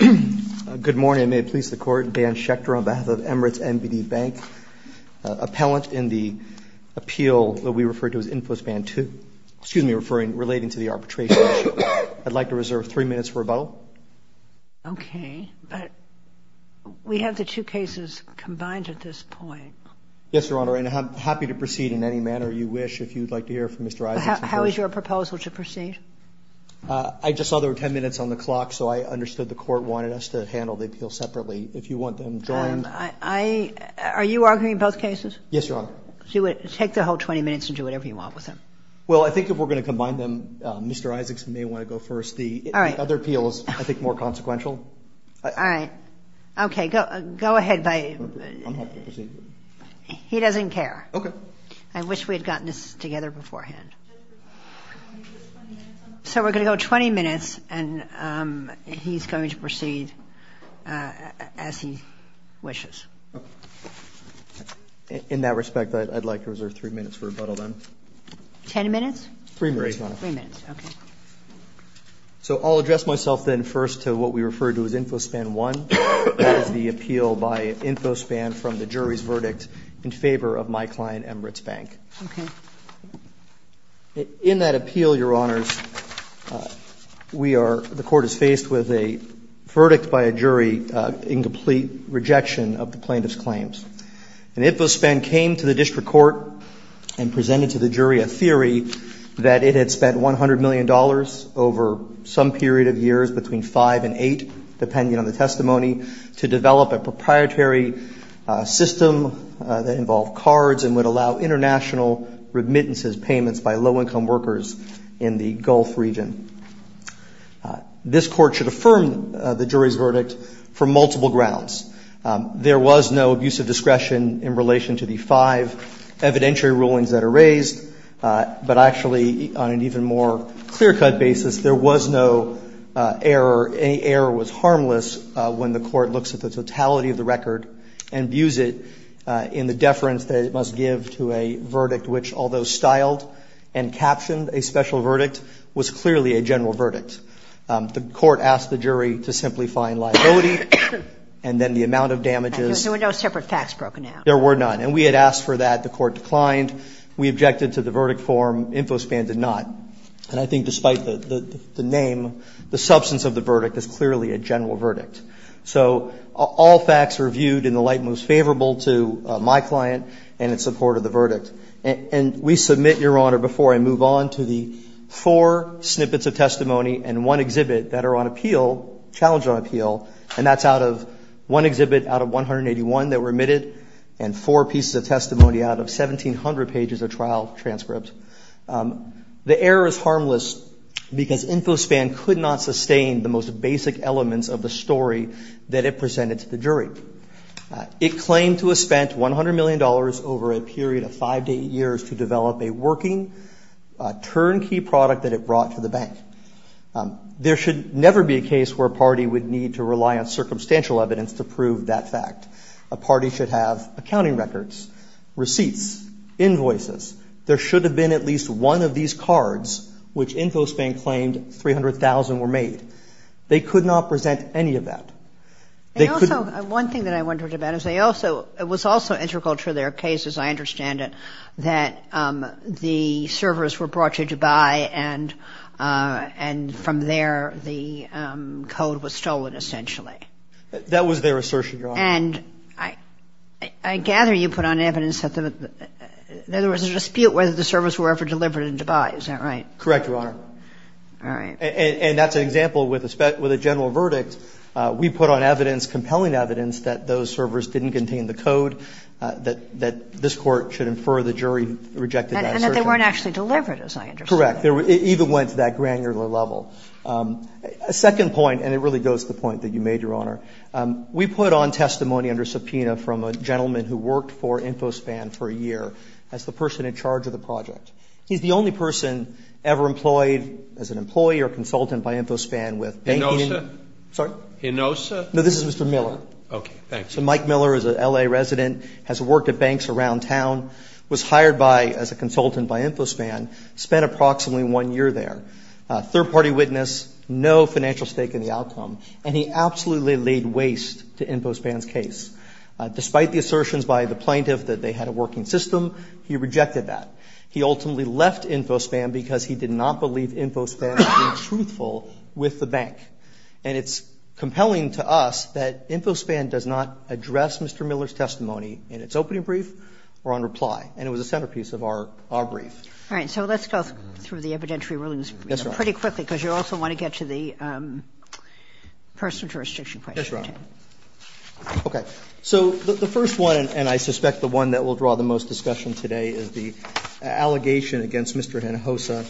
Good morning. May it please the Court, Dan Schecter on behalf of Emirates NBD Bank, appellant in the appeal that we referred to as InfoSpan 2. Excuse me, referring, relating to the arbitration issue. I'd like to reserve three minutes for rebuttal. Okay, but we have the two cases combined at this point. Yes, Your Honor, and I'm happy to proceed in any manner you wish if you'd like to hear from Mr. Isaacson first. How is your proposal to proceed? I just saw there were 10 minutes on the clock, so I understood the Court wanted us to handle the appeal separately. If you want them, join. I – are you arguing both cases? Yes, Your Honor. Take the whole 20 minutes and do whatever you want with them. Well, I think if we're going to combine them, Mr. Isaacson may want to go first. The other appeal is, I think, more consequential. All right. Okay. Go ahead by – I'm happy to proceed. He doesn't care. Okay. I wish we had gotten this together beforehand. So we're going to go 20 minutes, and he's going to proceed as he wishes. In that respect, I'd like to reserve three minutes for rebuttal then. Ten minutes? Three minutes, Your Honor. Three minutes. Okay. So I'll address myself then first to what we referred to as InfoSpan 1. That is the appeal by InfoSpan from the jury's verdict in favor of my client, Embritt's Bank. Okay. In that appeal, Your Honors, we are – the Court is faced with a verdict by a jury in complete rejection of the plaintiff's claims. And InfoSpan came to the district court and presented to the jury a theory that it had spent $100 million over some period of years between 5 and 8, depending on the testimony, to develop a proprietary system that involved cards and would allow international remittances, payments by low-income workers in the Gulf region. This Court should affirm the jury's verdict for multiple grounds. There was no abuse of discretion in relation to the five evidentiary rulings that are raised, but actually on an even more clear-cut basis, there was no error. Any error was harmless when the Court looks at the totality of the record and views it in the deference that it must give to a verdict which, although styled and captioned a special verdict, was clearly a general verdict. The Court asked the jury to simply find liability and then the amount of damages. There were no separate facts broken out. There were none. And we had asked for that. The Court declined. We objected to the verdict form. InfoSpan did not. And I think despite the name, the substance of the verdict is clearly a general verdict. So all facts were viewed in the light most favorable to my client and in support of the verdict. And we submit, Your Honor, before I move on, to the four snippets of testimony and one exhibit that are on appeal, challenge on appeal, and that's out of one exhibit out of 181 that were omitted and four pieces of testimony out of 1,700 pages of trial transcript. The error is harmless because InfoSpan could not sustain the most basic elements of the story that it presented to the jury. It claimed to have spent $100 million over a period of five to eight years to develop a working turnkey product that it brought to the bank. There should never be a case where a party would need to rely on circumstantial evidence to prove that fact. A party should have accounting records, receipts, invoices. There should have been at least one of these cards which InfoSpan claimed 300,000 were made. They could not present any of that. They couldn't. And also, one thing that I wondered about is they also, it was also integral to their case, as I understand it, that the servers were brought to Dubai and from there the code was stolen essentially. That was their assertion, Your Honor. And I gather you put on evidence that there was a dispute whether the servers were ever delivered in Dubai. Is that right? Correct, Your Honor. All right. And that's an example with a general verdict. We put on evidence, compelling evidence, that those servers didn't contain the code, that this Court should infer the jury rejected that assertion. And that they weren't actually delivered, as I understand it. Correct. It even went to that granular level. A second point, and it really goes to the point that you made, Your Honor. We put on testimony under subpoena from a gentleman who worked for InfoSpan for a year as the person in charge of the project. He's the only person ever employed as an employee or consultant by InfoSpan with banking. Hinosa? Sorry? Hinosa? No, this is Mr. Miller. Okay. Thanks. So Mike Miller is an L.A. resident, has worked at banks around town, was hired by, as a consultant by InfoSpan, spent approximately one year there. Third-party witness, no financial stake in the outcome. And he absolutely laid waste to InfoSpan's case. Despite the assertions by the plaintiff that they had a working system, he rejected that. He ultimately left InfoSpan because he did not believe InfoSpan was being truthful with the bank. And it's compelling to us that InfoSpan does not address Mr. Miller's testimony in its opening brief or on reply. And it was a centerpiece of our brief. All right. So let's go through the evidentiary rulings pretty quickly, because you also want to get to the personal jurisdiction question. That's right. Okay. So the first one, and I suspect the one that will draw the most discussion today, is the allegation against Mr. Hinosa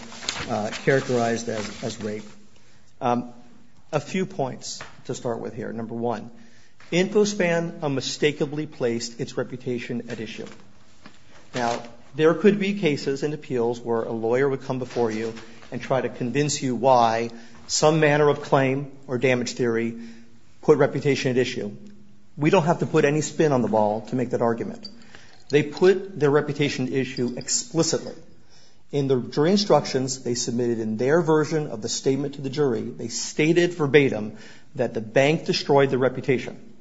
characterized as rape. A few points to start with here. Number one, InfoSpan unmistakably placed its reputation at issue. Now, there could be cases in appeals where a lawyer would come before you and try to convince you why some manner of claim or damage theory put reputation at issue. We don't have to put any spin on the ball to make that argument. They put their reputation at issue explicitly. In the jury instructions they submitted in their version of the statement to the jury, they stated verbatim that the bank destroyed the reputation.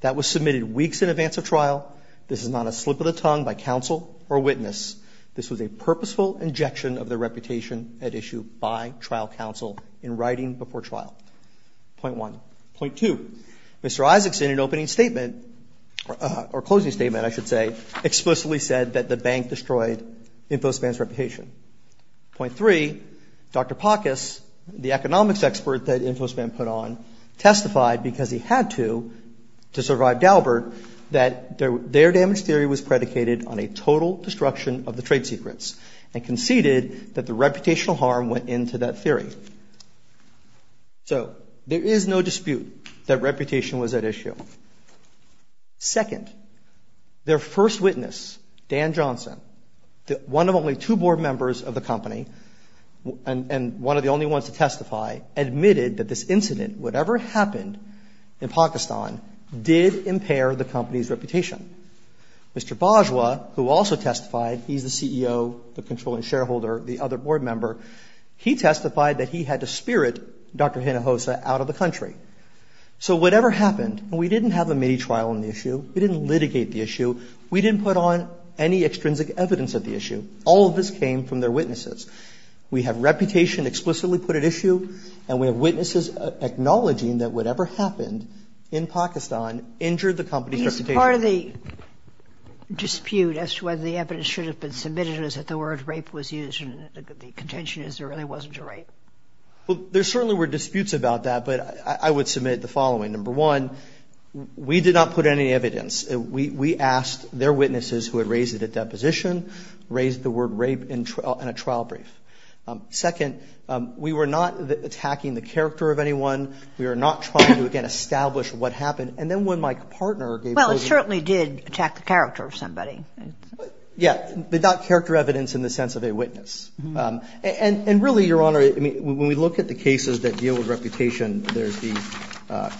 That was submitted weeks in advance of trial. This is not a slip of the tongue by counsel or witness. This was a purposeful injection of the reputation at issue by trial counsel in writing before trial. Point one. Point two. Mr. Isaacson, in an opening statement, or closing statement I should say, explicitly said that the bank destroyed InfoSpan's reputation. Point three, Dr. Pakas, the economics expert that InfoSpan put on, testified because he had to, to survive Daubert, that their damage theory was predicated on a total destruction of the trade secrets and conceded that the reputational harm went into that theory. So there is no dispute that reputation was at issue. Second, their first witness, Dan Johnson, one of only two board members of the company and one of the only ones to testify, testified that whatever happened in Pakistan did impair the company's reputation. Mr. Bajwa, who also testified, he's the CEO, the controlling shareholder, the other board member, he testified that he had to spirit Dr. Hinojosa out of the country. So whatever happened, we didn't have a mini-trial on the issue, we didn't litigate the issue, we didn't put on any extrinsic evidence of the issue. All of this came from their witnesses. We have reputation explicitly put at issue and we have witnesses acknowledging that whatever happened in Pakistan injured the company's reputation. He's part of the dispute as to whether the evidence should have been submitted as if the word rape was used and the contention is there really wasn't a rape. Well, there certainly were disputes about that, but I would submit the following. Number one, we did not put any evidence. We asked their witnesses who had raised it at deposition, raised the word rape in a trial brief. Second, we were not attacking the character of anyone. We were not trying to, again, establish what happened. And then when my partner gave closure. Well, it certainly did attack the character of somebody. Yeah, but not character evidence in the sense of a witness. And really, Your Honor, when we look at the cases that deal with reputation, there's the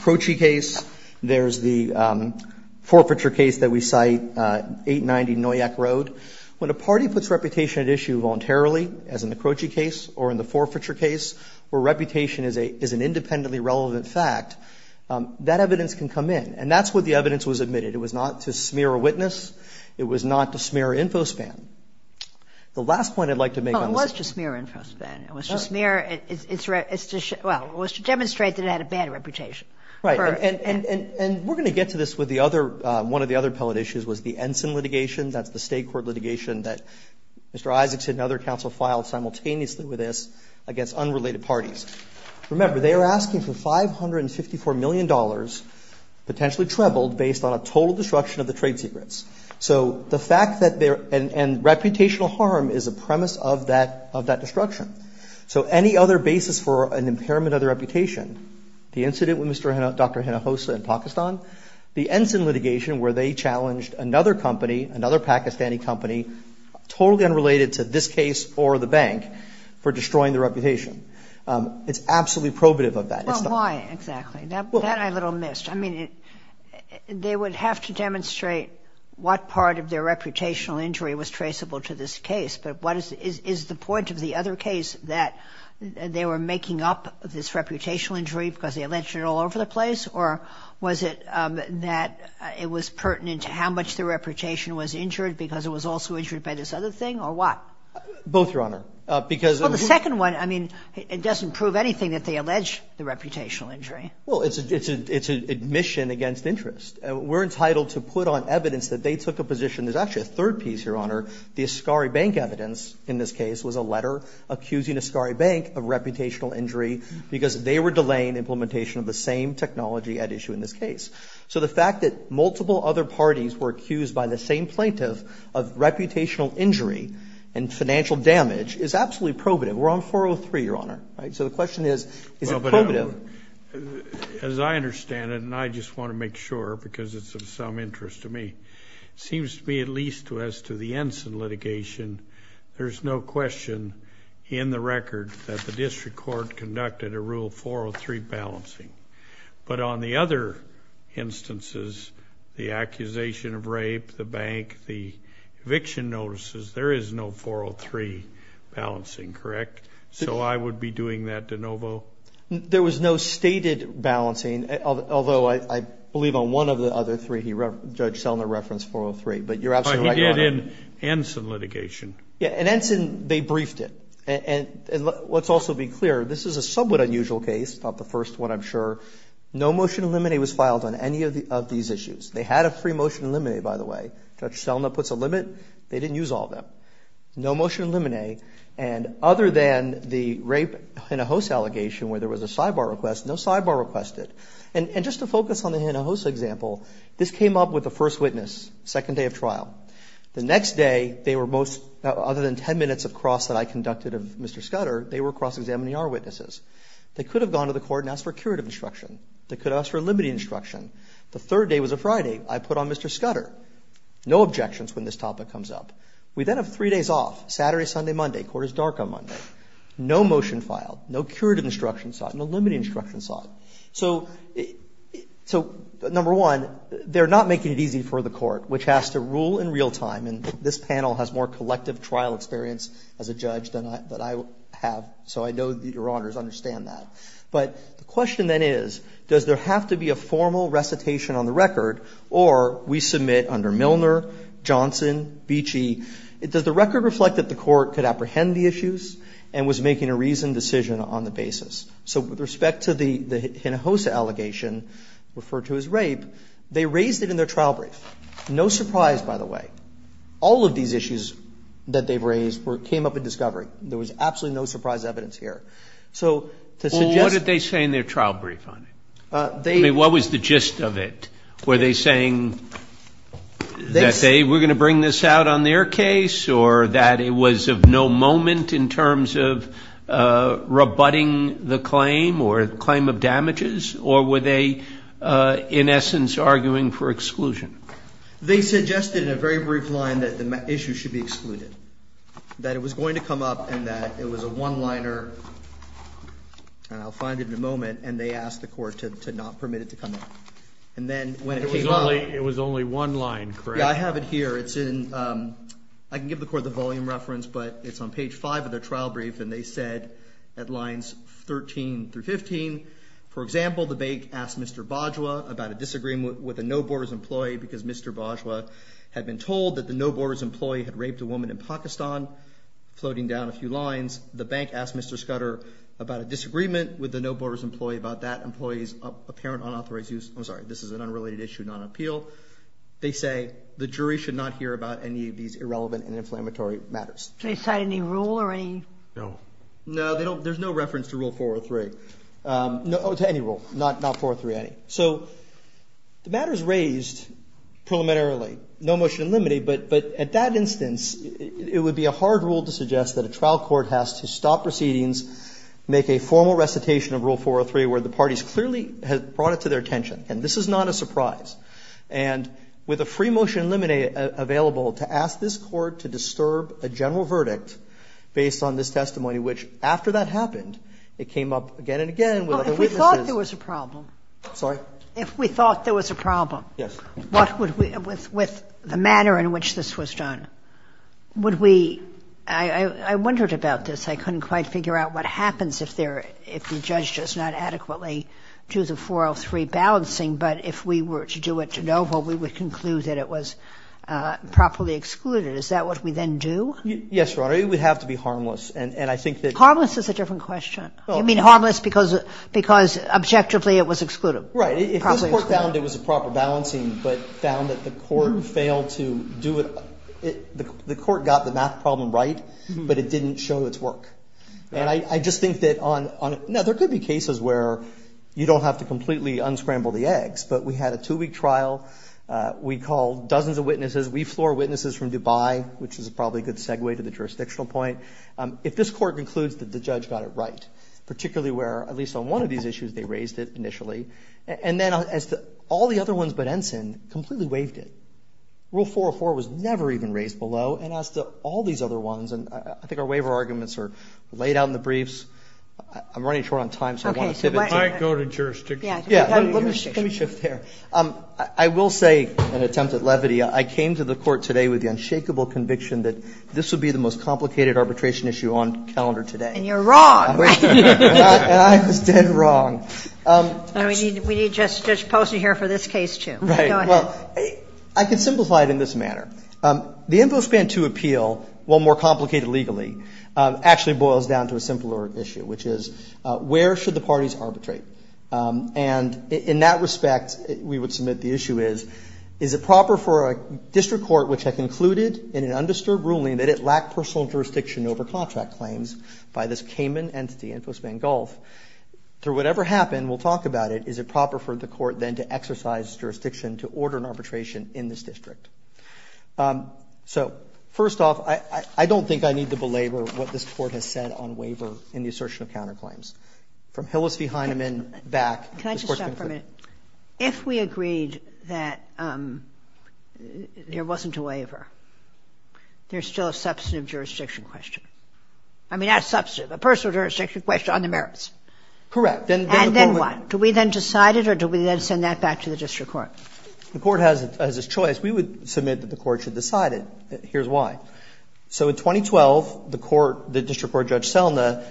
Croce case, there's the forfeiture case that we cite, 890 Noyak Road. When a party puts reputation at issue voluntarily, as in the Croce case, or in the forfeiture case, where reputation is an independently relevant fact, that evidence can come in. And that's what the evidence was admitted. It was not to smear a witness. It was not to smear InfoSpan. The last point I'd like to make on this. Well, it was to smear InfoSpan. It was to smear its, well, it was to demonstrate that it had a bad reputation. Right. And we're going to get to this with the other, one of the other appellate issues was the Ensign litigation. That's the state court litigation that Mr. Isaacson and other counsel filed simultaneously with this against unrelated parties. Remember, they are asking for $554 million, potentially trebled, based on a total destruction of the trade secrets. So the fact that there, and reputational harm is a premise of that destruction. So any other basis for an impairment of the reputation, the incident with Dr. Hinojosa in Pakistan, the Ensign litigation where they challenged another company, another Pakistani company, totally unrelated to this case or the bank, for destroying the reputation. It's absolutely probative of that. Well, why exactly? That I little missed. I mean, they would have to demonstrate what part of their reputational injury was traceable to this case. But what is the point of the other case that they were making up this other place? Or was it that it was pertinent to how much the reputation was injured because it was also injured by this other thing? Or what? Both, Your Honor. Because of the second one, I mean, it doesn't prove anything that they allege the reputational injury. Well, it's an admission against interest. We're entitled to put on evidence that they took a position. There's actually a third piece, Your Honor. The Ascari Bank evidence in this case was a letter accusing Ascari Bank of reputational injury because they were delaying implementation of the same technology at issue in this case. So the fact that multiple other parties were accused by the same plaintiff of reputational injury and financial damage is absolutely probative. We're on 403, Your Honor. So the question is, is it probative? As I understand it, and I just want to make sure because it's of some interest to me, it seems to me at least as to the Ensign litigation, there's no question in the record that the district court conducted a Rule 403 balancing. But on the other instances, the accusation of rape, the bank, the eviction notices, there is no 403 balancing, correct? So I would be doing that de novo? There was no stated balancing, although I believe on one of the other three, Judge Selner referenced 403. But you're absolutely right, Your Honor. But he did in Ensign litigation. Yeah. In Ensign, they briefed it. And let's also be clear, this is a somewhat unusual case, not the first one, I'm sure. No motion to eliminate was filed on any of these issues. They had a free motion to eliminate, by the way. Judge Selner puts a limit. They didn't use all of them. No motion to eliminate. And other than the rape Hinojosa allegation where there was a sidebar request, no sidebar requested. And just to focus on the Hinojosa example, this came up with the first witness, second day of trial. The next day, they were most, other than 10 minutes of cross that I conducted of Mr. Scudder, they were cross-examining our witnesses. They could have gone to the court and asked for curative instruction. They could have asked for limiting instruction. The third day was a Friday. I put on Mr. Scudder. No objections when this topic comes up. We then have three days off, Saturday, Sunday, Monday. Court is dark on Monday. No motion filed. No curative instruction sought. No limiting instruction sought. So number one, they're not making it easy for the court, which has to rule in real time. And this panel has more collective trial experience as a judge than I have. So I know that Your Honors understand that. But the question then is, does there have to be a formal recitation on the record or we submit under Milner, Johnson, Beachy, does the record reflect that the court could apprehend the issues and was making a reasoned decision on the basis? So with respect to the Hinojosa allegation referred to as rape, they raised it in their trial brief. No surprise, by the way, all of these issues that they've raised came up in discovery. There was absolutely no surprise evidence here. So to suggest that they say in their trial brief on it, what was the gist of it? Were they saying that they were going to bring this out on their case or that it was of no moment in terms of rebutting the claim or claim of damages? Or were they in essence arguing for exclusion? They suggested in a very brief line that the issue should be excluded, that it was going to come up and that it was a one-liner, and I'll find it in a moment, and they asked the court to not permit it to come up. And then when it came up. It was only one line, correct? Yeah, I have it here. It's in, I can give the court the volume reference, but it's on page 5 of their trial brief. And they said at lines 13 through 15, for example, the bank asked Mr. Bajwa about a disagreement with a No Borders employee because Mr. Bajwa had been told that the No Borders employee had raped a woman in Pakistan, floating down a few lines. The bank asked Mr. Scudder about a disagreement with the No Borders employee about that employee's apparent unauthorized use. I'm sorry, this is an unrelated issue, not an appeal. They say the jury should not hear about any of these irrelevant and inflammatory matters. Do they cite any rule or any? No. No, they don't. There's no reference to Rule 403. To any rule. Not 403, any. So the matter is raised preliminarily. No motion in limine, but at that instance, it would be a hard rule to suggest that a trial court has to stop proceedings, make a formal recitation of Rule 403 where the parties clearly have brought it to their attention. And this is not a surprise. And with a free motion in limine available to ask this Court to disturb a general verdict based on this testimony, which after that happened, it came up again and again with other weaknesses. Well, if we thought there was a problem. Sorry? If we thought there was a problem. Yes. What would we, with the manner in which this was done, would we, I wondered about this. I couldn't quite figure out what happens if there, if the judge does not adequately do the 403 balancing, but if we were to do it de novo, we would conclude that it was properly excluded. Is that what we then do? Yes, Your Honor. It would have to be harmless. And I think that. Harmless is a different question. You mean harmless because objectively it was excluded. Right. If this Court found it was a proper balancing, but found that the Court failed to do it, the Court got the math problem right, but it didn't show its work. And I just think that on the other, there could be cases where you don't have to completely unscramble the eggs. But we had a two-week trial. We called dozens of witnesses. We floor witnesses from Dubai, which is probably a good segue to the jurisdictional point. If this Court concludes that the judge got it right, particularly where, at least on one of these issues, they raised it initially, and then as to all the other ones but Ensign, completely waived it. Rule 404 was never even raised below. And as to all these other ones, and I think our waiver arguments are laid out in the briefs. I'm running short on time, so I want to say this. Okay. It might go to jurisdiction. Yeah. Let me shift there. I will say an attempt at levity. I came to the Court today with the unshakable conviction that this would be the most complicated arbitration issue on calendar today. And you're wrong. And I was dead wrong. We need Judge Poston here for this case, too. Right. Well, I can simplify it in this manner. The InfoSpan 2 appeal, while more complicated legally, actually boils down to a simpler issue, which is where should the parties arbitrate? And in that respect, we would submit the issue is, is it proper for a district court which had concluded in an undisturbed ruling that it lacked personal jurisdiction over contract claims by this Cayman entity, InfoSpan Gulf, through whatever happened, we'll talk about it, is it proper for the court then to exercise jurisdiction to order an arbitration in this district? So first off, I don't think I need to belabor what this Court has said on waiver in the assertion of counterclaims. From Hillis v. Heinemann back. Can I just stop for a minute? If we agreed that there wasn't a waiver, there's still a substantive jurisdiction question. I mean, not a substantive, a personal jurisdiction question on the merits. Correct. And then what? Do we then decide it or do we then send that back to the district court? The court has its choice. We would submit that the court should decide it. Here's why. So in 2012, the court, the district court Judge Selna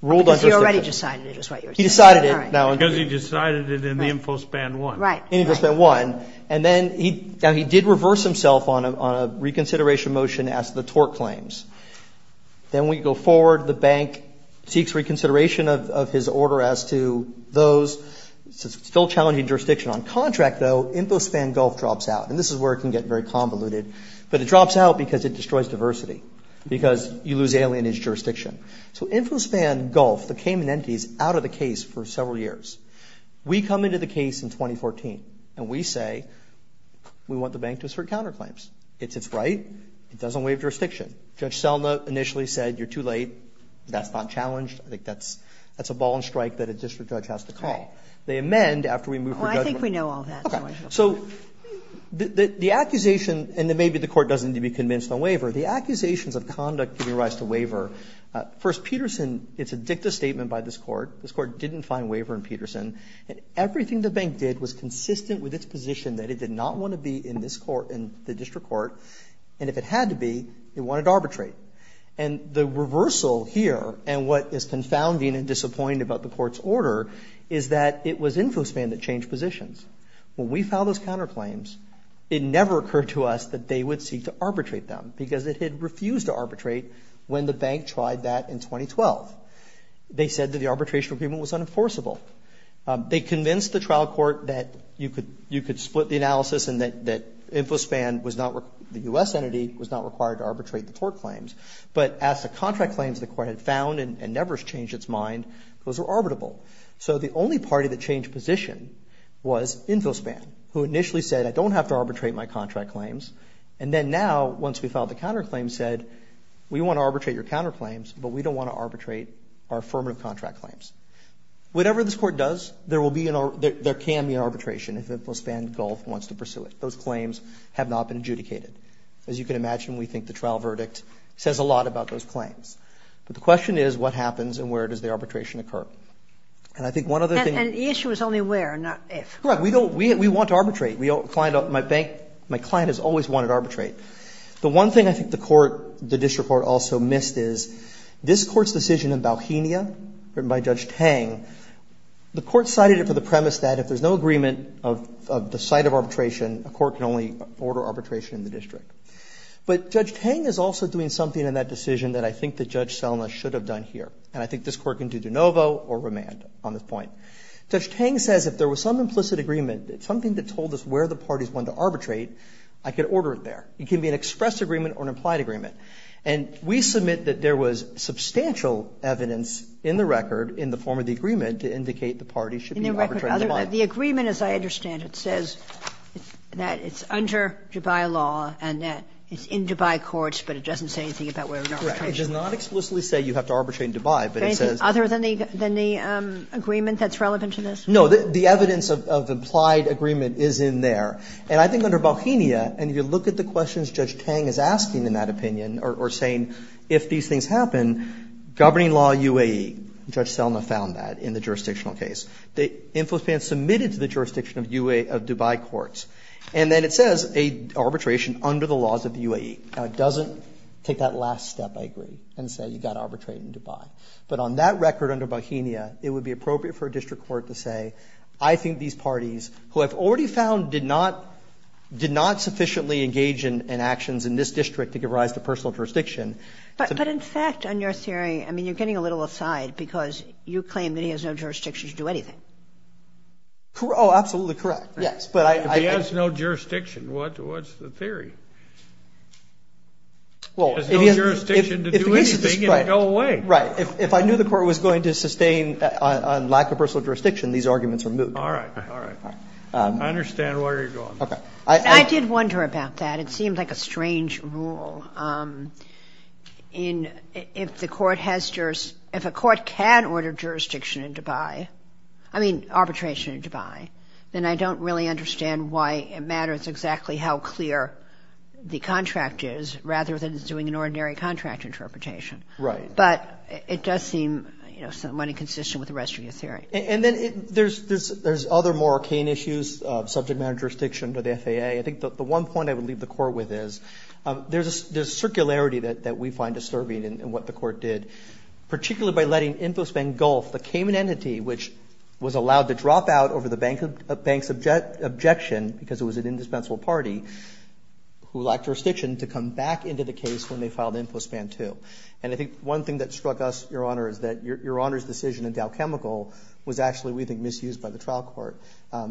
ruled on jurisdiction. He already decided it. He decided it. Because he decided it in the InfoSpan 1. Right. InfoSpan 1. And then he did reverse himself on a reconsideration motion as to the tort claims. Then we go forward. The bank seeks reconsideration of his order as to those still challenging jurisdiction. On contract, though, InfoSpan Gulf drops out. And this is where it can get very convoluted. But it drops out because it destroys diversity, because you lose alienage jurisdiction. So InfoSpan Gulf, the Cayman Entity, is out of the case for several years. We come into the case in 2014. And we say we want the bank to assert counterclaims. It's its right. It doesn't waive jurisdiction. Judge Selna initially said you're too late. That's not challenged. I think that's a ball and strike that a district judge has to call. They amend after we move for judgment. Well, I think we know all that. Okay. So the accusation, and maybe the court doesn't need to be convinced on waiver, the accusations of conduct giving rise to waiver. First, Peterson, it's a dicta statement by this Court. This Court didn't find waiver in Peterson. And everything the bank did was consistent with its position that it did not want to be in this Court, in the district court. And if it had to be, it wanted to arbitrate. And the reversal here, and what is confounding and disappointing about the Court's order, is that it was InfoSpan that changed positions. When we filed those counterclaims, it never occurred to us that they would seek to arbitrate because it had refused to arbitrate when the bank tried that in 2012. They said that the arbitration agreement was unenforceable. They convinced the trial court that you could split the analysis and that InfoSpan was not, the U.S. entity was not required to arbitrate the tort claims. But as the contract claims the Court had found and never changed its mind, those were arbitrable. So the only party that changed position was InfoSpan, who initially said, I don't have to arbitrate my contract claims. And then now, once we filed the counterclaims, said, we want to arbitrate your counterclaims, but we don't want to arbitrate our affirmative contract claims. Whatever this Court does, there will be, there can be an arbitration if InfoSpan wants to pursue it. Those claims have not been adjudicated. As you can imagine, we think the trial verdict says a lot about those claims. But the question is, what happens and where does the arbitration occur? And I think one other thing. And the issue is only where, not if. Correct. We don't, we want to arbitrate. We don't, my bank, my client has always wanted to arbitrate. The one thing I think the Court, the district court also missed is, this Court's decision in Bauhinia written by Judge Tang, the Court cited it for the premise that if there's no agreement of the site of arbitration, a court can only order arbitration in the district. But Judge Tang is also doing something in that decision that I think that Judge Selma should have done here. And I think this Court can do de novo or remand on this point. Judge Tang says if there was some implicit agreement, something that told us where the parties wanted to arbitrate, I could order it there. It can be an expressed agreement or an implied agreement. And we submit that there was substantial evidence in the record, in the form of the agreement, to indicate the parties should be able to arbitrate in Dubai. The agreement, as I understand it, says that it's under Dubai law and that it's in Dubai courts, but it doesn't say anything about where the arbitration is. Right. It does not explicitly say you have to arbitrate in Dubai, but it says. Other than the agreement that's relevant to this? No. The evidence of implied agreement is in there. And I think under Bauhinia, and if you look at the questions Judge Tang is asking in that opinion, or saying if these things happen, governing law UAE, Judge Selma found that in the jurisdictional case. The infotainment submitted to the jurisdiction of Dubai courts. And then it says arbitration under the laws of the UAE. Now, it doesn't take that last step, I agree, and say you've got to arbitrate in Dubai. But on that record under Bauhinia, it would be appropriate for a district court to say, I think these parties, who I've already found did not sufficiently engage in actions in this district to give rise to personal jurisdiction. But in fact, on your theory, I mean, you're getting a little aside because you claim that he has no jurisdiction to do anything. Oh, absolutely correct, yes. He has no jurisdiction. What's the theory? He has no jurisdiction to do anything and go away. Right. If I knew the court was going to sustain a lack of personal jurisdiction, these arguments are moot. All right, all right. I understand where you're going. I did wonder about that. It seemed like a strange rule. If a court can order jurisdiction in Dubai, I mean arbitration in Dubai, then I don't really understand why it matters exactly how clear the contract is rather than it's doing an ordinary contract interpretation. Right. But it does seem somewhat inconsistent with the rest of your theory. And then there's other more arcane issues of subject matter jurisdiction to the FAA. I think the one point I would leave the court with is there's circularity that we find disturbing in what the court did, particularly by letting the Cayman entity, which was allowed to drop out over the bank's objection because it was an indispensable party, who lacked jurisdiction, to come back into the case when they filed InfoSpan 2. And I think one thing that struck us, Your Honor, is that Your Honor's decision in Dow Chemical was actually, we think, misused by the trial court,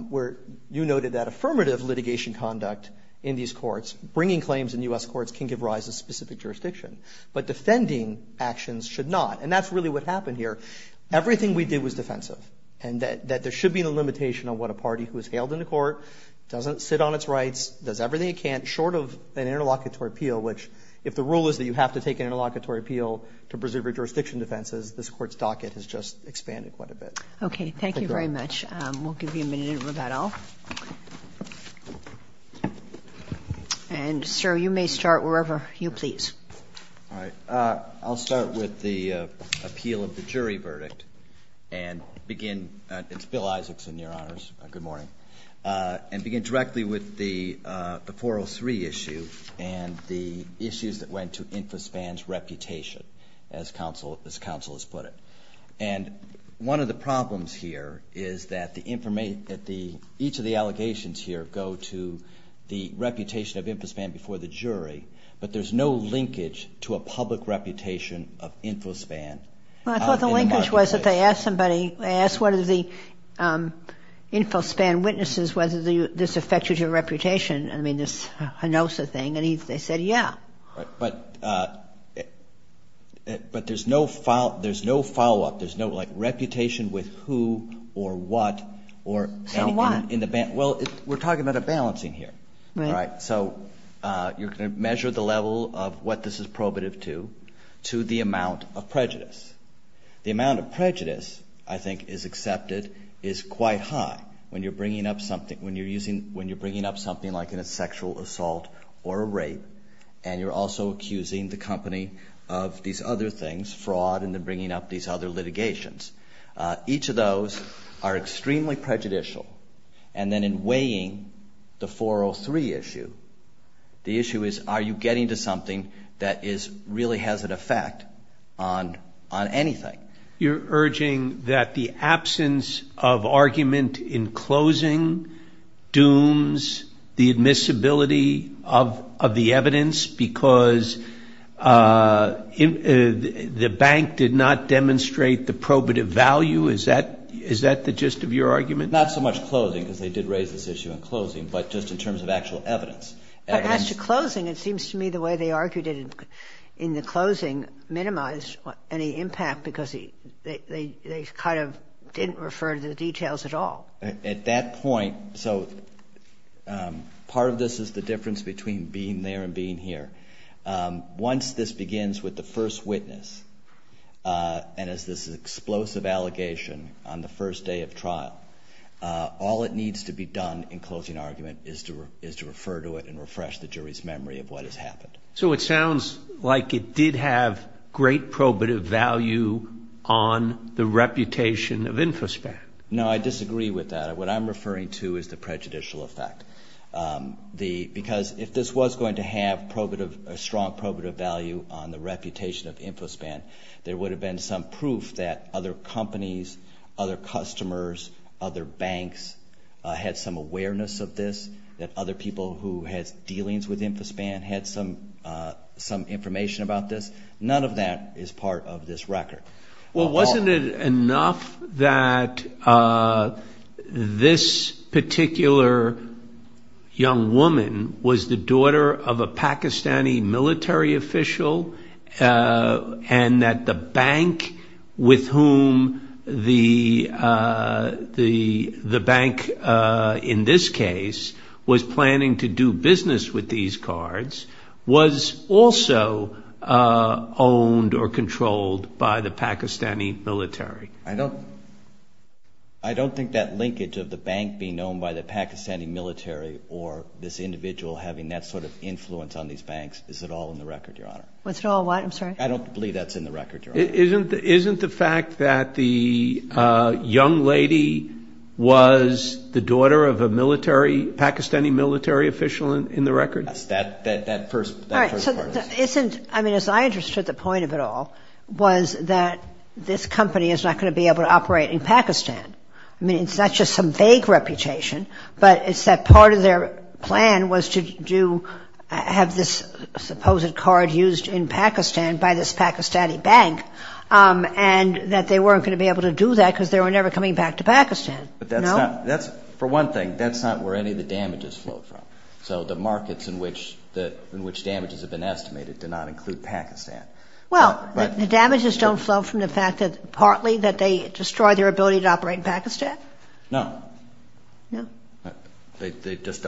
where you noted that affirmative litigation conduct in these courts, bringing claims in U.S. courts, can give rise to specific jurisdiction. But defending actions should not. And that's really what happened here. Everything we did was defensive, and that there should be no limitation on what a party who is hailed into court, doesn't sit on its rights, does everything it can, short of an interlocutory appeal, which if the rule is that you have to take an interlocutory appeal to preserve your jurisdiction defenses, this Court's docket has just expanded quite a bit. Okay. Thank you very much. We'll give you a minute, Roberto. And, sir, you may start wherever you please. All right. I'll start with the appeal of the jury verdict and begin. It's Bill Isaacson, Your Honors. Good morning. And begin directly with the 403 issue and the issues that went to Infospan's reputation, as counsel has put it. And one of the problems here is that each of the allegations here go to the reputation of Infospan before the jury, but there's no linkage to a public reputation of Infospan. Well, I thought the linkage was that they asked somebody, they asked one of the Infospan witnesses whether this affected your reputation, I mean, this Hinosa thing, and they said, yeah. But there's no follow-up. There's no, like, reputation with who or what. So what? Well, we're talking about a balancing here. Right. So you're going to measure the level of what this is probative to to the amount of prejudice. The amount of prejudice I think is accepted is quite high when you're bringing up something like a sexual assault or a rape, and you're also accusing the company of these other things, fraud, and then bringing up these other litigations. Each of those are extremely prejudicial. And then in weighing the 403 issue, the issue is, are you getting to something that really has an effect on anything? You're urging that the absence of argument in closing dooms the admissibility of the evidence because the bank did not demonstrate the probative value. Is that the gist of your argument? Not so much closing, because they did raise this issue in closing, but just in terms of actual evidence. As to closing, it seems to me the way they argued it in the closing minimized any impact because they kind of didn't refer to the details at all. At that point, so part of this is the difference between being there and being here. Once this begins with the first witness and as this explosive allegation on the first day of trial, all that needs to be done in closing argument is to refer to it and refresh the jury's memory of what has happened. So it sounds like it did have great probative value on the reputation of InfoSpan. No, I disagree with that. What I'm referring to is the prejudicial effect. Because if this was going to have a strong probative value on the reputation of InfoSpan, there would have been some proof that other companies, other customers, other banks had some awareness of this, that other people who had dealings with InfoSpan had some information about this. None of that is part of this record. Well, wasn't it enough that this particular young woman was the daughter of a Pakistani military official and that the bank with whom the bank in this case was planning to do business with these cards was also owned or controlled by the Pakistani military? I don't think that linkage of the bank being owned by the Pakistani military or this individual having that sort of influence on these banks is at all in the record, Your Honor. Was it all what? I'm sorry? I don't believe that's in the record, Your Honor. Isn't the fact that the young lady was the daughter of a military, Pakistani military official in the record? That's that first part of it. All right. I mean, as I understood the point of it all was that this company is not going to be able to operate in Pakistan. I mean, it's not just some vague reputation, but it's that part of their plan was to have this supposed card used in Pakistan by this Pakistani bank and that they weren't going to be able to do that because they were never coming back to Pakistan. No? For one thing, that's not where any of the damages flowed from. So the markets in which damages have been estimated do not include Pakistan. Well, the damages don't flow from the fact that partly that they destroyed their ability to operate in Pakistan? No. No? They just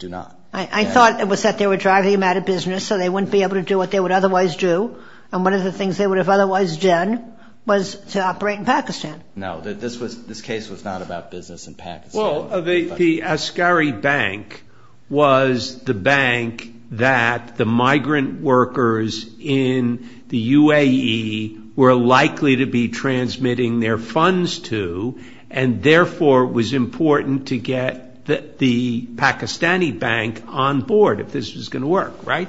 do not. I thought it was that they were driving them out of business so they wouldn't be able to do what they would otherwise do, and one of the things they would have otherwise done was to operate in Pakistan. No, this case was not about business in Pakistan. Well, the Askari Bank was the bank that the migrant workers in the UAE were likely to be transmitting their funds to and therefore it was important to get the Pakistani bank on board if this was going to work, right?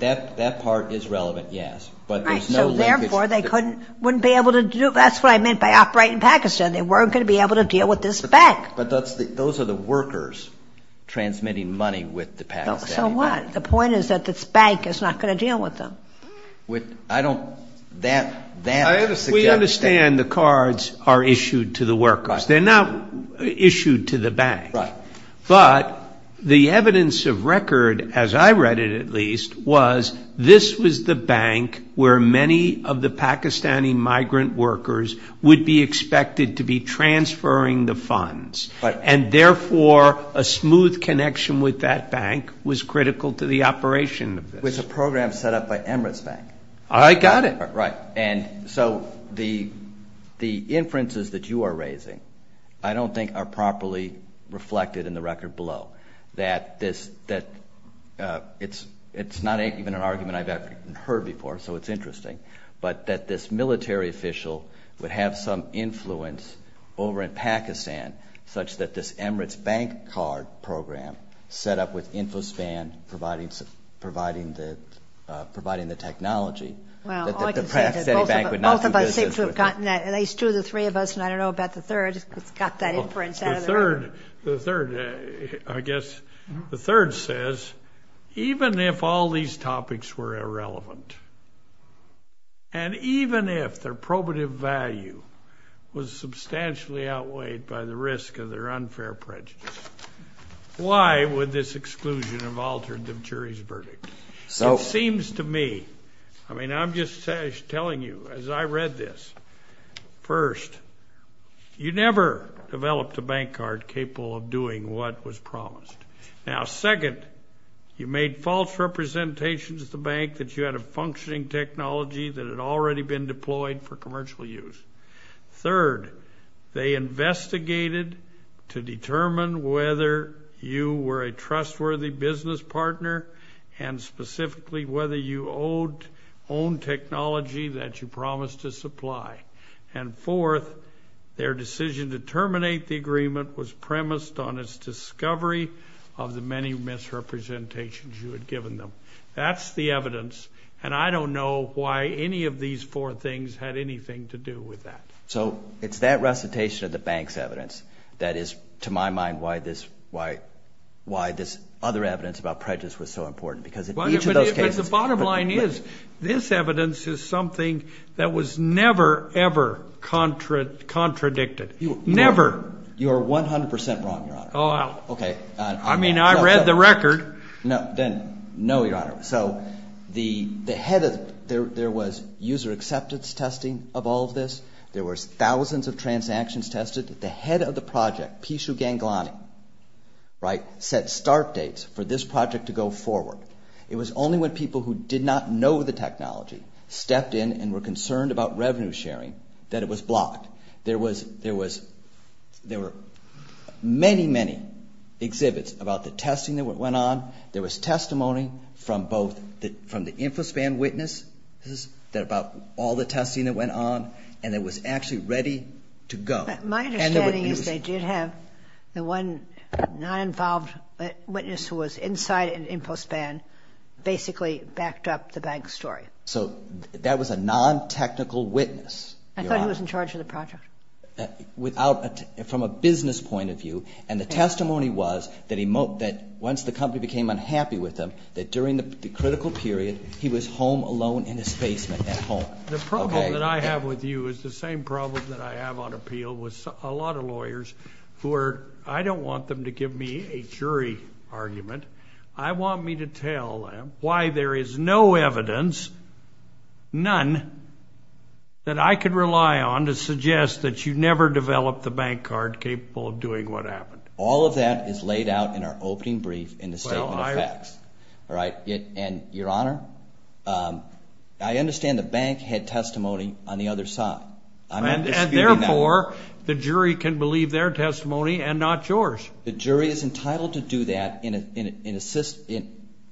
That part is relevant, yes, but there's no linkage. Right, so therefore they wouldn't be able to do it. That's what I meant by operating in Pakistan. They weren't going to be able to deal with this bank. But those are the workers transmitting money with the Pakistani bank. So what? The point is that this bank is not going to deal with them. I don't, that, that. We understand the cards are issued to the workers. They're not issued to the bank. Right. But the evidence of record, as I read it at least, was this was the bank where many of the Pakistani migrant workers would be expected to be transferring the funds, and therefore a smooth connection with that bank was critical to the operation. It was a program set up by Emirates Bank. I got it. Right. And so the inferences that you are raising I don't think are properly reflected in the record below, that this, that it's not even an argument I've ever heard before, so it's interesting, but that this military official would have some influence over in Pakistan such that this Emirates Bank card program set up with Infospan providing the technology that the Pakistani bank would not do business with. Well, all I can say is that both of us think we've gotten that, at least two of the three of us, and I don't know about the third, got that inference out of the way. The third, I guess, the third says, even if all these topics were irrelevant, and even if their probative value was substantially outweighed by the risk of their unfair prejudice, why would this exclusion have altered the jury's verdict? It seems to me, I mean, I'm just telling you, as I read this, first, you never developed a bank card capable of doing what was promised. Now, second, you made false representations at the bank that you had a functioning technology that had already been deployed for commercial use. Third, they investigated to determine whether you were a trustworthy business partner and specifically whether you owned technology that you promised to supply. And fourth, their decision to terminate the agreement was premised on its discovery of the many misrepresentations you had given them. That's the evidence, and I don't know why any of these four things had anything to do with that. So it's that recitation of the bank's evidence that is, to my mind, why this other evidence about prejudice was so important. Because in each of those cases... But the bottom line is, this evidence is something that was never, ever contradicted. Never. You are 100% wrong, Your Honor. I mean, I read the record. No, then, no, Your Honor. So the head of... There was user acceptance testing of all of this. There were thousands of transactions tested. The head of the project, Pishu Ganglani, right, set start dates for this project to go forward. It was only when people who did not know the technology stepped in and were concerned about revenue sharing that it was blocked. There were many, many exhibits about the testing that went on. There was testimony from both the InfoSpan witnesses about all the testing that went on, and it was actually ready to go. My understanding is they did have the one non-involved witness who was inside InfoSpan basically backed up the bank's story. I thought he was in charge of the project. From a business point of view. And the testimony was that once the company became unhappy with him, that during the critical period he was home alone in his basement at home. The problem that I have with you is the same problem that I have on appeal with a lot of lawyers who are... I don't want them to give me a jury argument. I want me to tell them why there is no evidence, none, that I could rely on to suggest that you never developed the bank card capable of doing what happened. All of that is laid out in our opening brief in the Statement of Facts. All right, and, Your Honor, I understand the bank had testimony on the other side. And therefore, the jury can believe their testimony and not yours. The jury is entitled to do that in a system...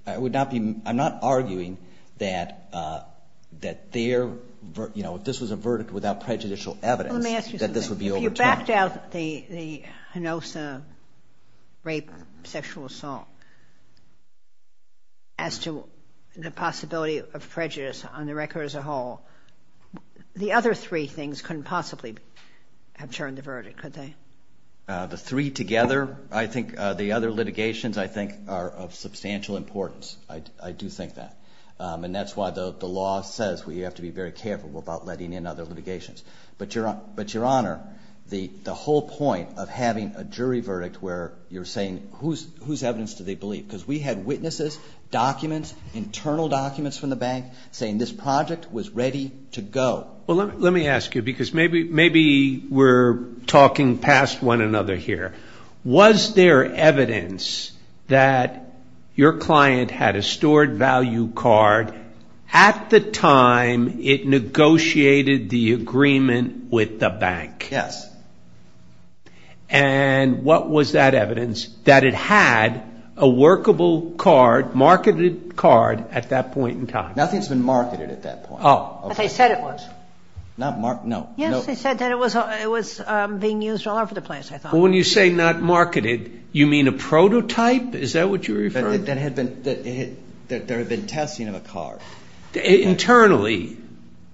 I'm not arguing that this was a verdict without prejudicial evidence that this would be overturned. Let me ask you something. If you backed out the Hinosa rape, sexual assault, as to the possibility of prejudice on the record as a whole, the other three things couldn't possibly have turned the verdict, could they? The three together, I think, the other litigations, I think, are of substantial importance. I do think that. And that's why the law says we have to be very careful about letting in other litigations. But, Your Honor, the whole point of having a jury verdict where you're saying, whose evidence do they believe? Because we had witnesses, documents, internal documents from the bank saying this project was ready to go. Well, let me ask you, because maybe we're talking past one another here. Was there evidence that your client had a stored value card at the time it negotiated the agreement with the bank? Yes. And what was that evidence? That it had a workable card, marketed card, at that point in time? Nothing's been marketed at that point. Oh. But they said it was. Not marked, no. Yes, they said that it was being used all over the place, I thought. Well, when you say not marketed, you mean a prototype? Is that what you're referring to? That there had been testing of a card. Internally,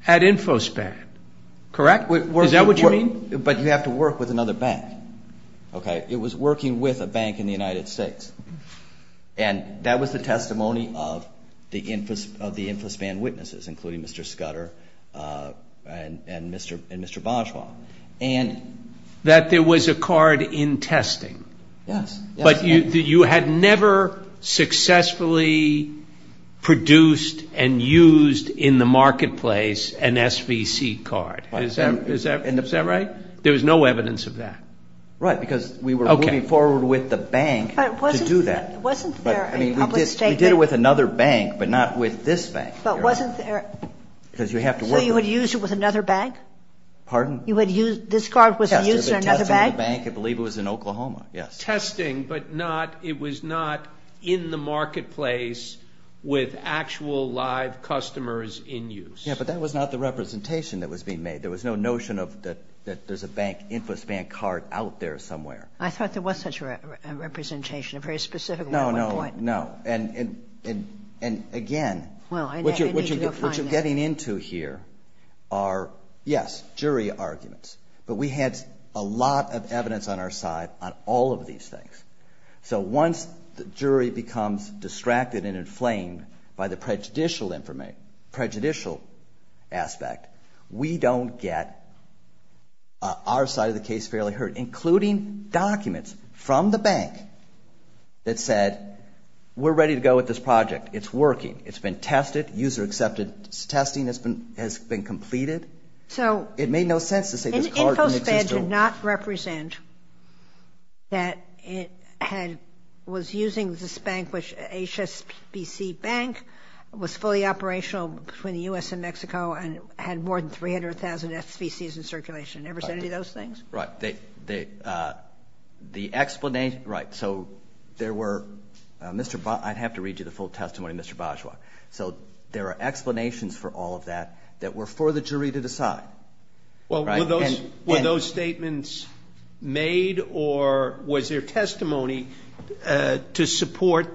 at InfoSpan, correct? Is that what you mean? But you have to work with another bank, okay? It was working with a bank in the United States. And that was the testimony of the InfoSpan witnesses, including Mr. Scudder and Mr. Boschma. And that there was a card in testing. Yes. But you had never successfully produced and used in the marketplace an SVC card. Is that right? There was no evidence of that. Right, because we were moving forward with the bank. To do that. Wasn't there a public statement? We did it with another bank, but not with this bank. But wasn't there— Because you have to work with— So you would use it with another bank? Pardon? You would use—this card was used in another bank? Testing the bank, I believe it was in Oklahoma, yes. Testing, but not—it was not in the marketplace with actual live customers in use. Yeah, but that was not the representation that was being made. There was no notion that there's a InfoSpan card out there somewhere. I thought there was such a representation, a very specific one at one point. No, no, no. And, again, what you're getting into here are, yes, jury arguments. But we had a lot of evidence on our side on all of these things. So once the jury becomes distracted and inflamed by the prejudicial aspect, we don't get our side of the case fairly heard, including documents from the bank that said, we're ready to go with this project. It's working. It's been tested. User-accepted testing has been completed. So— It made no sense to say this card didn't exist. So InfoSpan did not represent that it was using this bank, which HSBC Bank was fully operational between the U.S. and Mexico and had more than 300,000 SBCs in circulation. It never said any of those things? Right. The explanation—right. So there were—I'd have to read you the full testimony, Mr. Bajwa. So there are explanations for all of that that were for the jury to decide. Well, were those statements made or was there testimony to support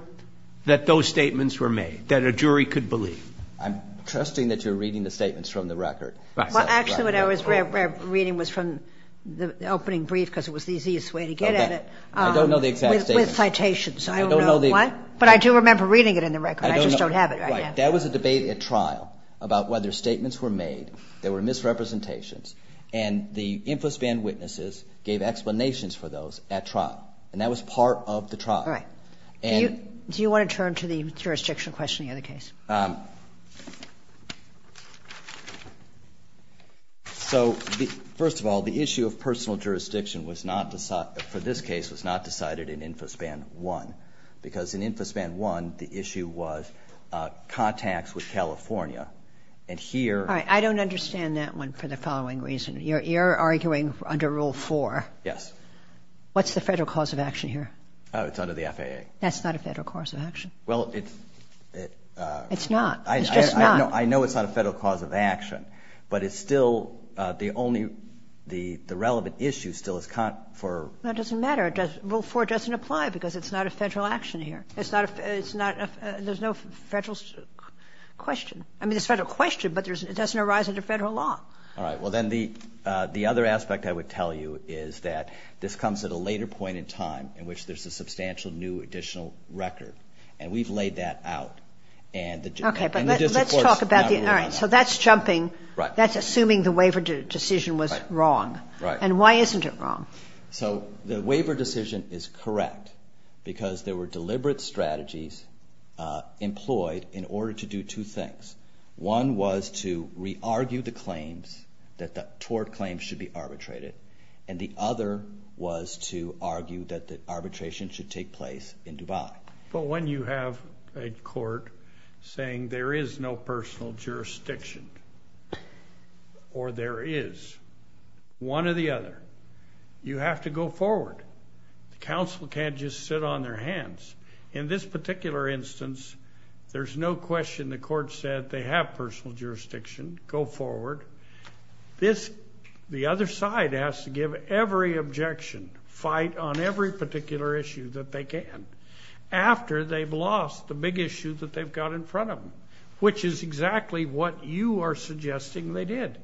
that those statements were made, that a jury could believe? I'm trusting that you're reading the statements from the record. Well, actually, what I was reading was from the opening brief because it was the easiest way to get at it. I don't know the exact statement. With citations. I don't know what. But I do remember reading it in the record. I just don't have it right now. That was a debate at trial about whether statements were made, there were misrepresentations, and the InfoSpan witnesses gave explanations for those at trial. And that was part of the trial. All right. Do you want to turn to the jurisdictional question in the other case? So, first of all, the issue of personal jurisdiction for this case was not decided in InfoSpan 1 because in InfoSpan 1 the issue was contacts with California. And here... All right. I don't understand that one for the following reason. You're arguing under Rule 4. Yes. What's the federal cause of action here? Oh, it's under the FAA. That's not a federal cause of action. Well, it's... It's not. It's just not. I know it's not a federal cause of action. But it's still the only, the relevant issue still is for... That doesn't matter. Rule 4 doesn't apply because it's not a federal action here. It's not a... There's no federal question. I mean, there's a federal question, but it doesn't arise under federal law. All right. Well, then the other aspect I would tell you is that this comes at a later point in time in which there's a substantial new additional record. And we've laid that out. Okay. But let's talk about the... All right. So that's jumping. Right. That's assuming the waiver decision was wrong. Right. And why isn't it wrong? So the waiver decision is correct because there were deliberate strategies employed in order to do two things. One was to re-argue the claims, that the tort claims should be arbitrated. And the other was to argue that the arbitration should take place in Dubai. But when you have a court saying there is no personal jurisdiction, or there is, one or the other, you have to go forward. The counsel can't just sit on their hands. In this particular instance, there's no question the court said they have personal jurisdiction. Go forward. The other side has to give every objection, fight on every particular issue that they can, after they've lost the big issue that they've got in front of them, which is exactly what you are suggesting they did.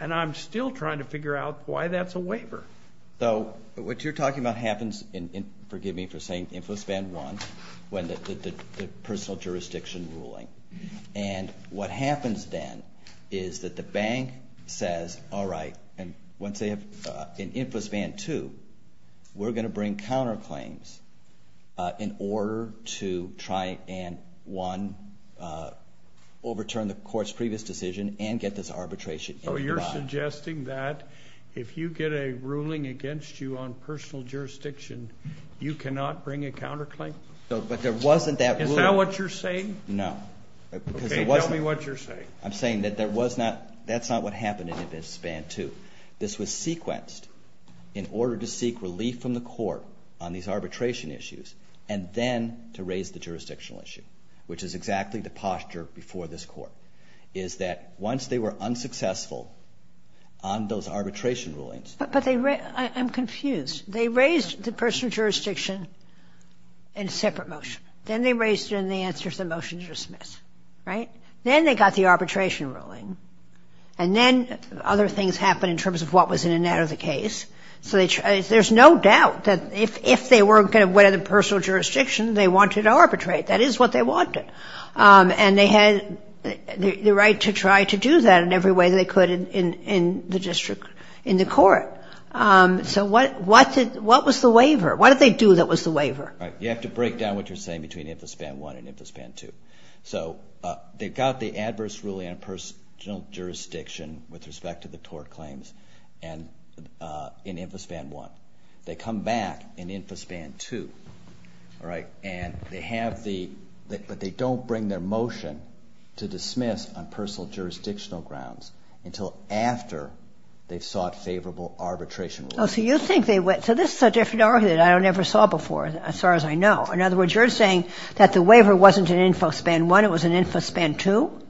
And I'm still trying to figure out why that's a waiver. So what you're talking about happens in, forgive me for saying, InfoSpan 1, when the personal jurisdiction ruling. And what happens then is that the bank says, all right, and once they have, in InfoSpan 2, we're going to bring counterclaims in order to try and, one, overturn the court's previous decision and get this arbitration in Dubai. So you're suggesting that if you get a ruling against you on personal jurisdiction, you cannot bring a counterclaim? But there wasn't that ruling. Is that what you're saying? No. Okay, tell me what you're saying. I'm saying that that's not what happened in InfoSpan 2. This was sequenced in order to seek relief from the court on these arbitration issues and then to raise the jurisdictional issue, which is exactly the posture before this court, is that once they were unsuccessful on those arbitration rulings. But I'm confused. They raised the personal jurisdiction in a separate motion. Then they raised it in the answer to the motion to dismiss, right? Then they got the arbitration ruling. And then other things happened in terms of what was in and out of the case. There's no doubt that if they weren't going to have personal jurisdiction, they wanted to arbitrate. That is what they wanted. And they had the right to try to do that in every way they could in the court. So what was the waiver? What did they do that was the waiver? You have to break down what you're saying between InfoSpan 1 and InfoSpan 2. So they got the adverse ruling on personal jurisdiction with respect to the tort claims in InfoSpan 1. They come back in InfoSpan 2. But they don't bring their motion to dismiss on personal jurisdictional grounds until after they've sought favorable arbitration rulings. So this is a different argument I never saw before, as far as I know. In other words, you're saying that the waiver wasn't in InfoSpan 1, it was in InfoSpan 2?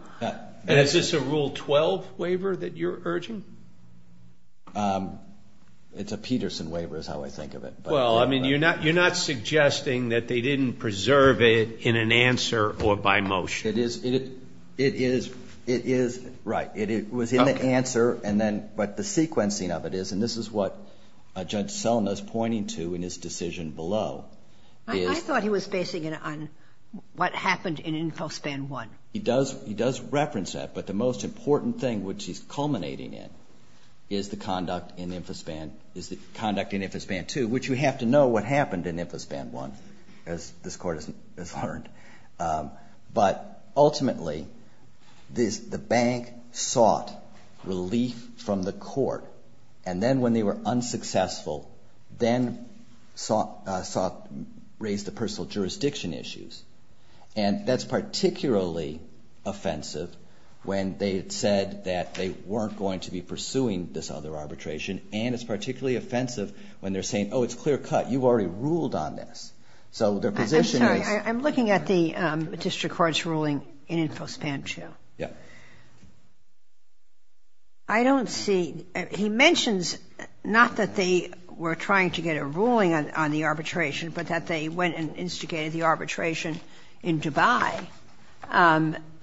Is this a Rule 12 waiver that you're urging? It's a Peterson waiver is how I think of it. Well, I mean, you're not suggesting that they didn't preserve it in an answer or by motion. It is, right. It was in the answer, but the sequencing of it is, and this is what Judge Selna is pointing to in his decision below. I thought he was basing it on what happened in InfoSpan 1. He does reference that, but the most important thing which he's culminating in is the conduct in InfoSpan 2, which you have to know what happened in InfoSpan 1, as this Court has learned. But ultimately, the bank sought relief from the Court, and then when they were unsuccessful, then raised the personal jurisdiction issues. And that's particularly offensive when they had said that they weren't going to be pursuing this other arbitration, and it's particularly offensive when they're saying, oh, it's clear cut, you've already ruled on this. I'm sorry, I'm looking at the district court's ruling in InfoSpan 2. Yeah. I don't see, he mentions not that they were trying to get a ruling on the arbitration, but that they went and instigated the arbitration in Dubai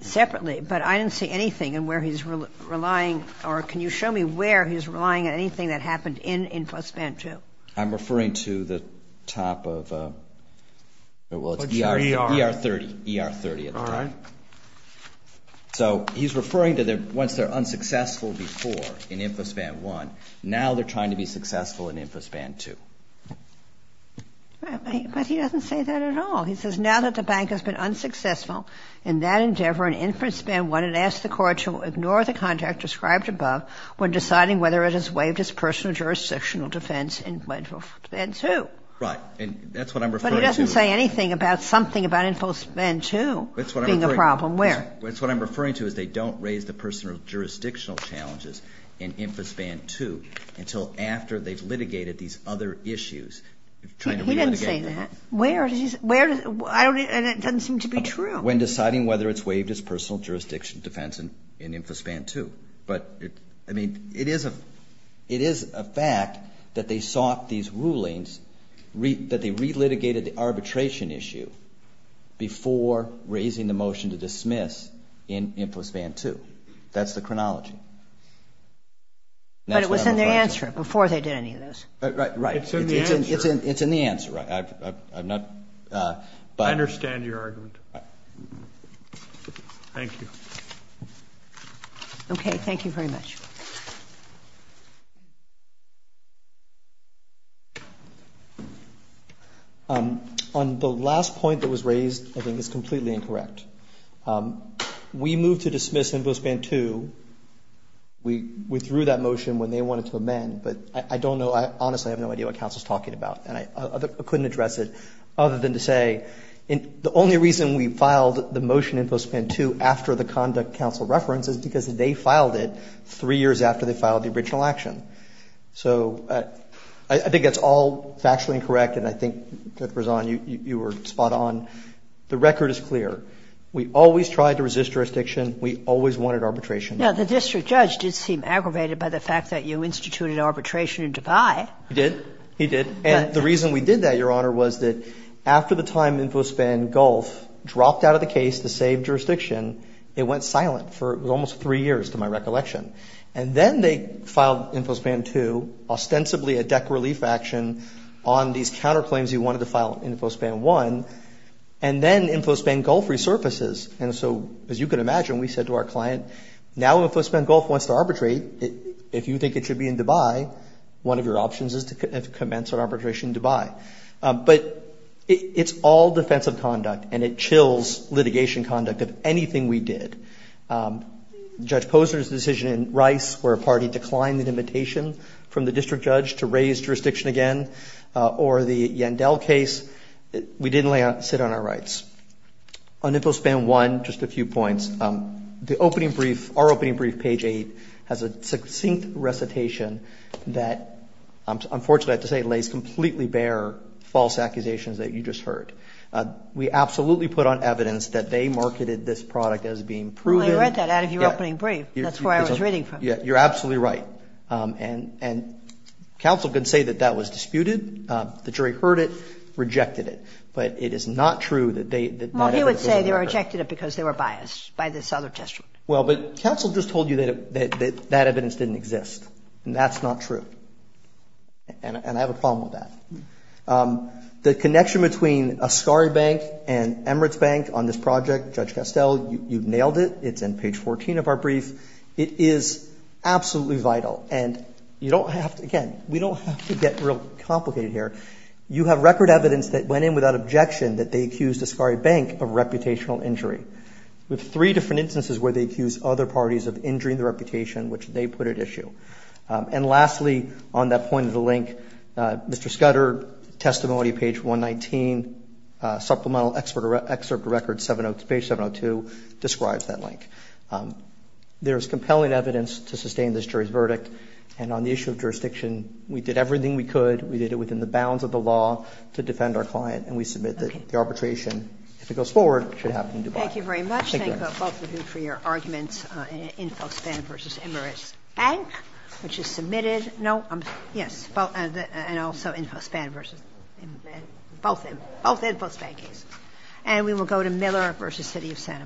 separately. But I didn't see anything in where he's relying, or can you show me where he's relying on anything that happened in InfoSpan 2? I'm referring to the top of, well, it's ER 30 at the top. All right. So he's referring to once they're unsuccessful before in InfoSpan 1, now they're trying to be successful in InfoSpan 2. But he doesn't say that at all. He says now that the bank has been unsuccessful in that endeavor in InfoSpan 1, it asks the Court to ignore the contract described above when deciding whether it has waived its personal jurisdictional defense in InfoSpan 2. Right, and that's what I'm referring to. But he doesn't say anything about something about InfoSpan 2 being a problem where? That's what I'm referring to is they don't raise the personal jurisdictional challenges in InfoSpan 2 until after they've litigated these other issues. He doesn't say that. Where does he say that? And it doesn't seem to be true. When deciding whether it's waived its personal jurisdictional defense in InfoSpan 2. But, I mean, it is a fact that they sought these rulings, that they re-litigated the arbitration issue before raising the motion to dismiss in InfoSpan 2. That's the chronology. But it was in their answer before they did any of those. Right. It's in the answer. It's in the answer. I'm not. I understand your argument. Thank you. Okay. Thank you very much. On the last point that was raised, I think it's completely incorrect. We moved to dismiss InfoSpan 2. We withdrew that motion when they wanted to amend. But I don't know. Honestly, I have no idea what counsel is talking about. And I couldn't address it other than to say the only reason we filed the motion in InfoSpan 2 after the conduct counsel referenced is because they filed it three years after they filed the original action. So I think that's all factually incorrect. And I think, Ruth Rizan, you were spot on. The record is clear. We always tried to resist jurisdiction. We always wanted arbitration. Now, the district judge did seem aggravated by the fact that you instituted arbitration in Dubai. He did. He did. And the reason we did that, Your Honor, was that after the time InfoSpan Gulf dropped out of the case to save jurisdiction, it went silent for almost three years to my recollection. And then they filed InfoSpan 2, ostensibly a deck relief action, on these counterclaims you wanted to file InfoSpan 1. And then InfoSpan Gulf resurfaces. And so, as you can imagine, we said to our client, now InfoSpan Gulf wants to arbitrate. If you think it should be in Dubai, one of your options is to commence an arbitration in Dubai. But it's all defensive conduct, and it chills litigation conduct of anything we did. Judge Posner's decision in Rice, where a party declined an invitation from the district judge to raise jurisdiction again, or the Yandel case, we didn't sit on our rights. On InfoSpan 1, just a few points. The opening brief, our opening brief, page 8, has a succinct recitation that, unfortunately, I have to say lays completely bare false accusations that you just heard. We absolutely put on evidence that they marketed this product as being proven. Well, I read that out of your opening brief. That's where I was reading from. Yeah, you're absolutely right. And counsel can say that that was disputed. The jury heard it, rejected it. But it is not true that they did not have evidence. Well, you would say they rejected it because they were biased by this other district. Well, but counsel just told you that that evidence didn't exist. And that's not true. And I have a problem with that. The connection between Ascari Bank and Emirates Bank on this project, Judge Castell, you've nailed it. It's in page 14 of our brief. It is absolutely vital. And you don't have to, again, we don't have to get real complicated here. You have record evidence that went in without objection that they accused Ascari Bank of reputational injury. We have three different instances where they accused other parties of injuring the reputation which they put at issue. And lastly, on that point of the link, Mr. Scudder, testimony, page 119, supplemental excerpt record, page 702, describes that link. There is compelling evidence to sustain this jury's verdict. And on the issue of jurisdiction, we did everything we could. We did it within the bounds of the law to defend our client. And we submit that the arbitration, if it goes forward, should happen in Dubai. Thank you very much. Thank both of you for your arguments in Folkspan v. Emirates Bank. Which is submitted. No. Yes. And also in Folkspan v. Emirates. Both in Folkspan cases. And we will go to Miller v. City of Santa Monica.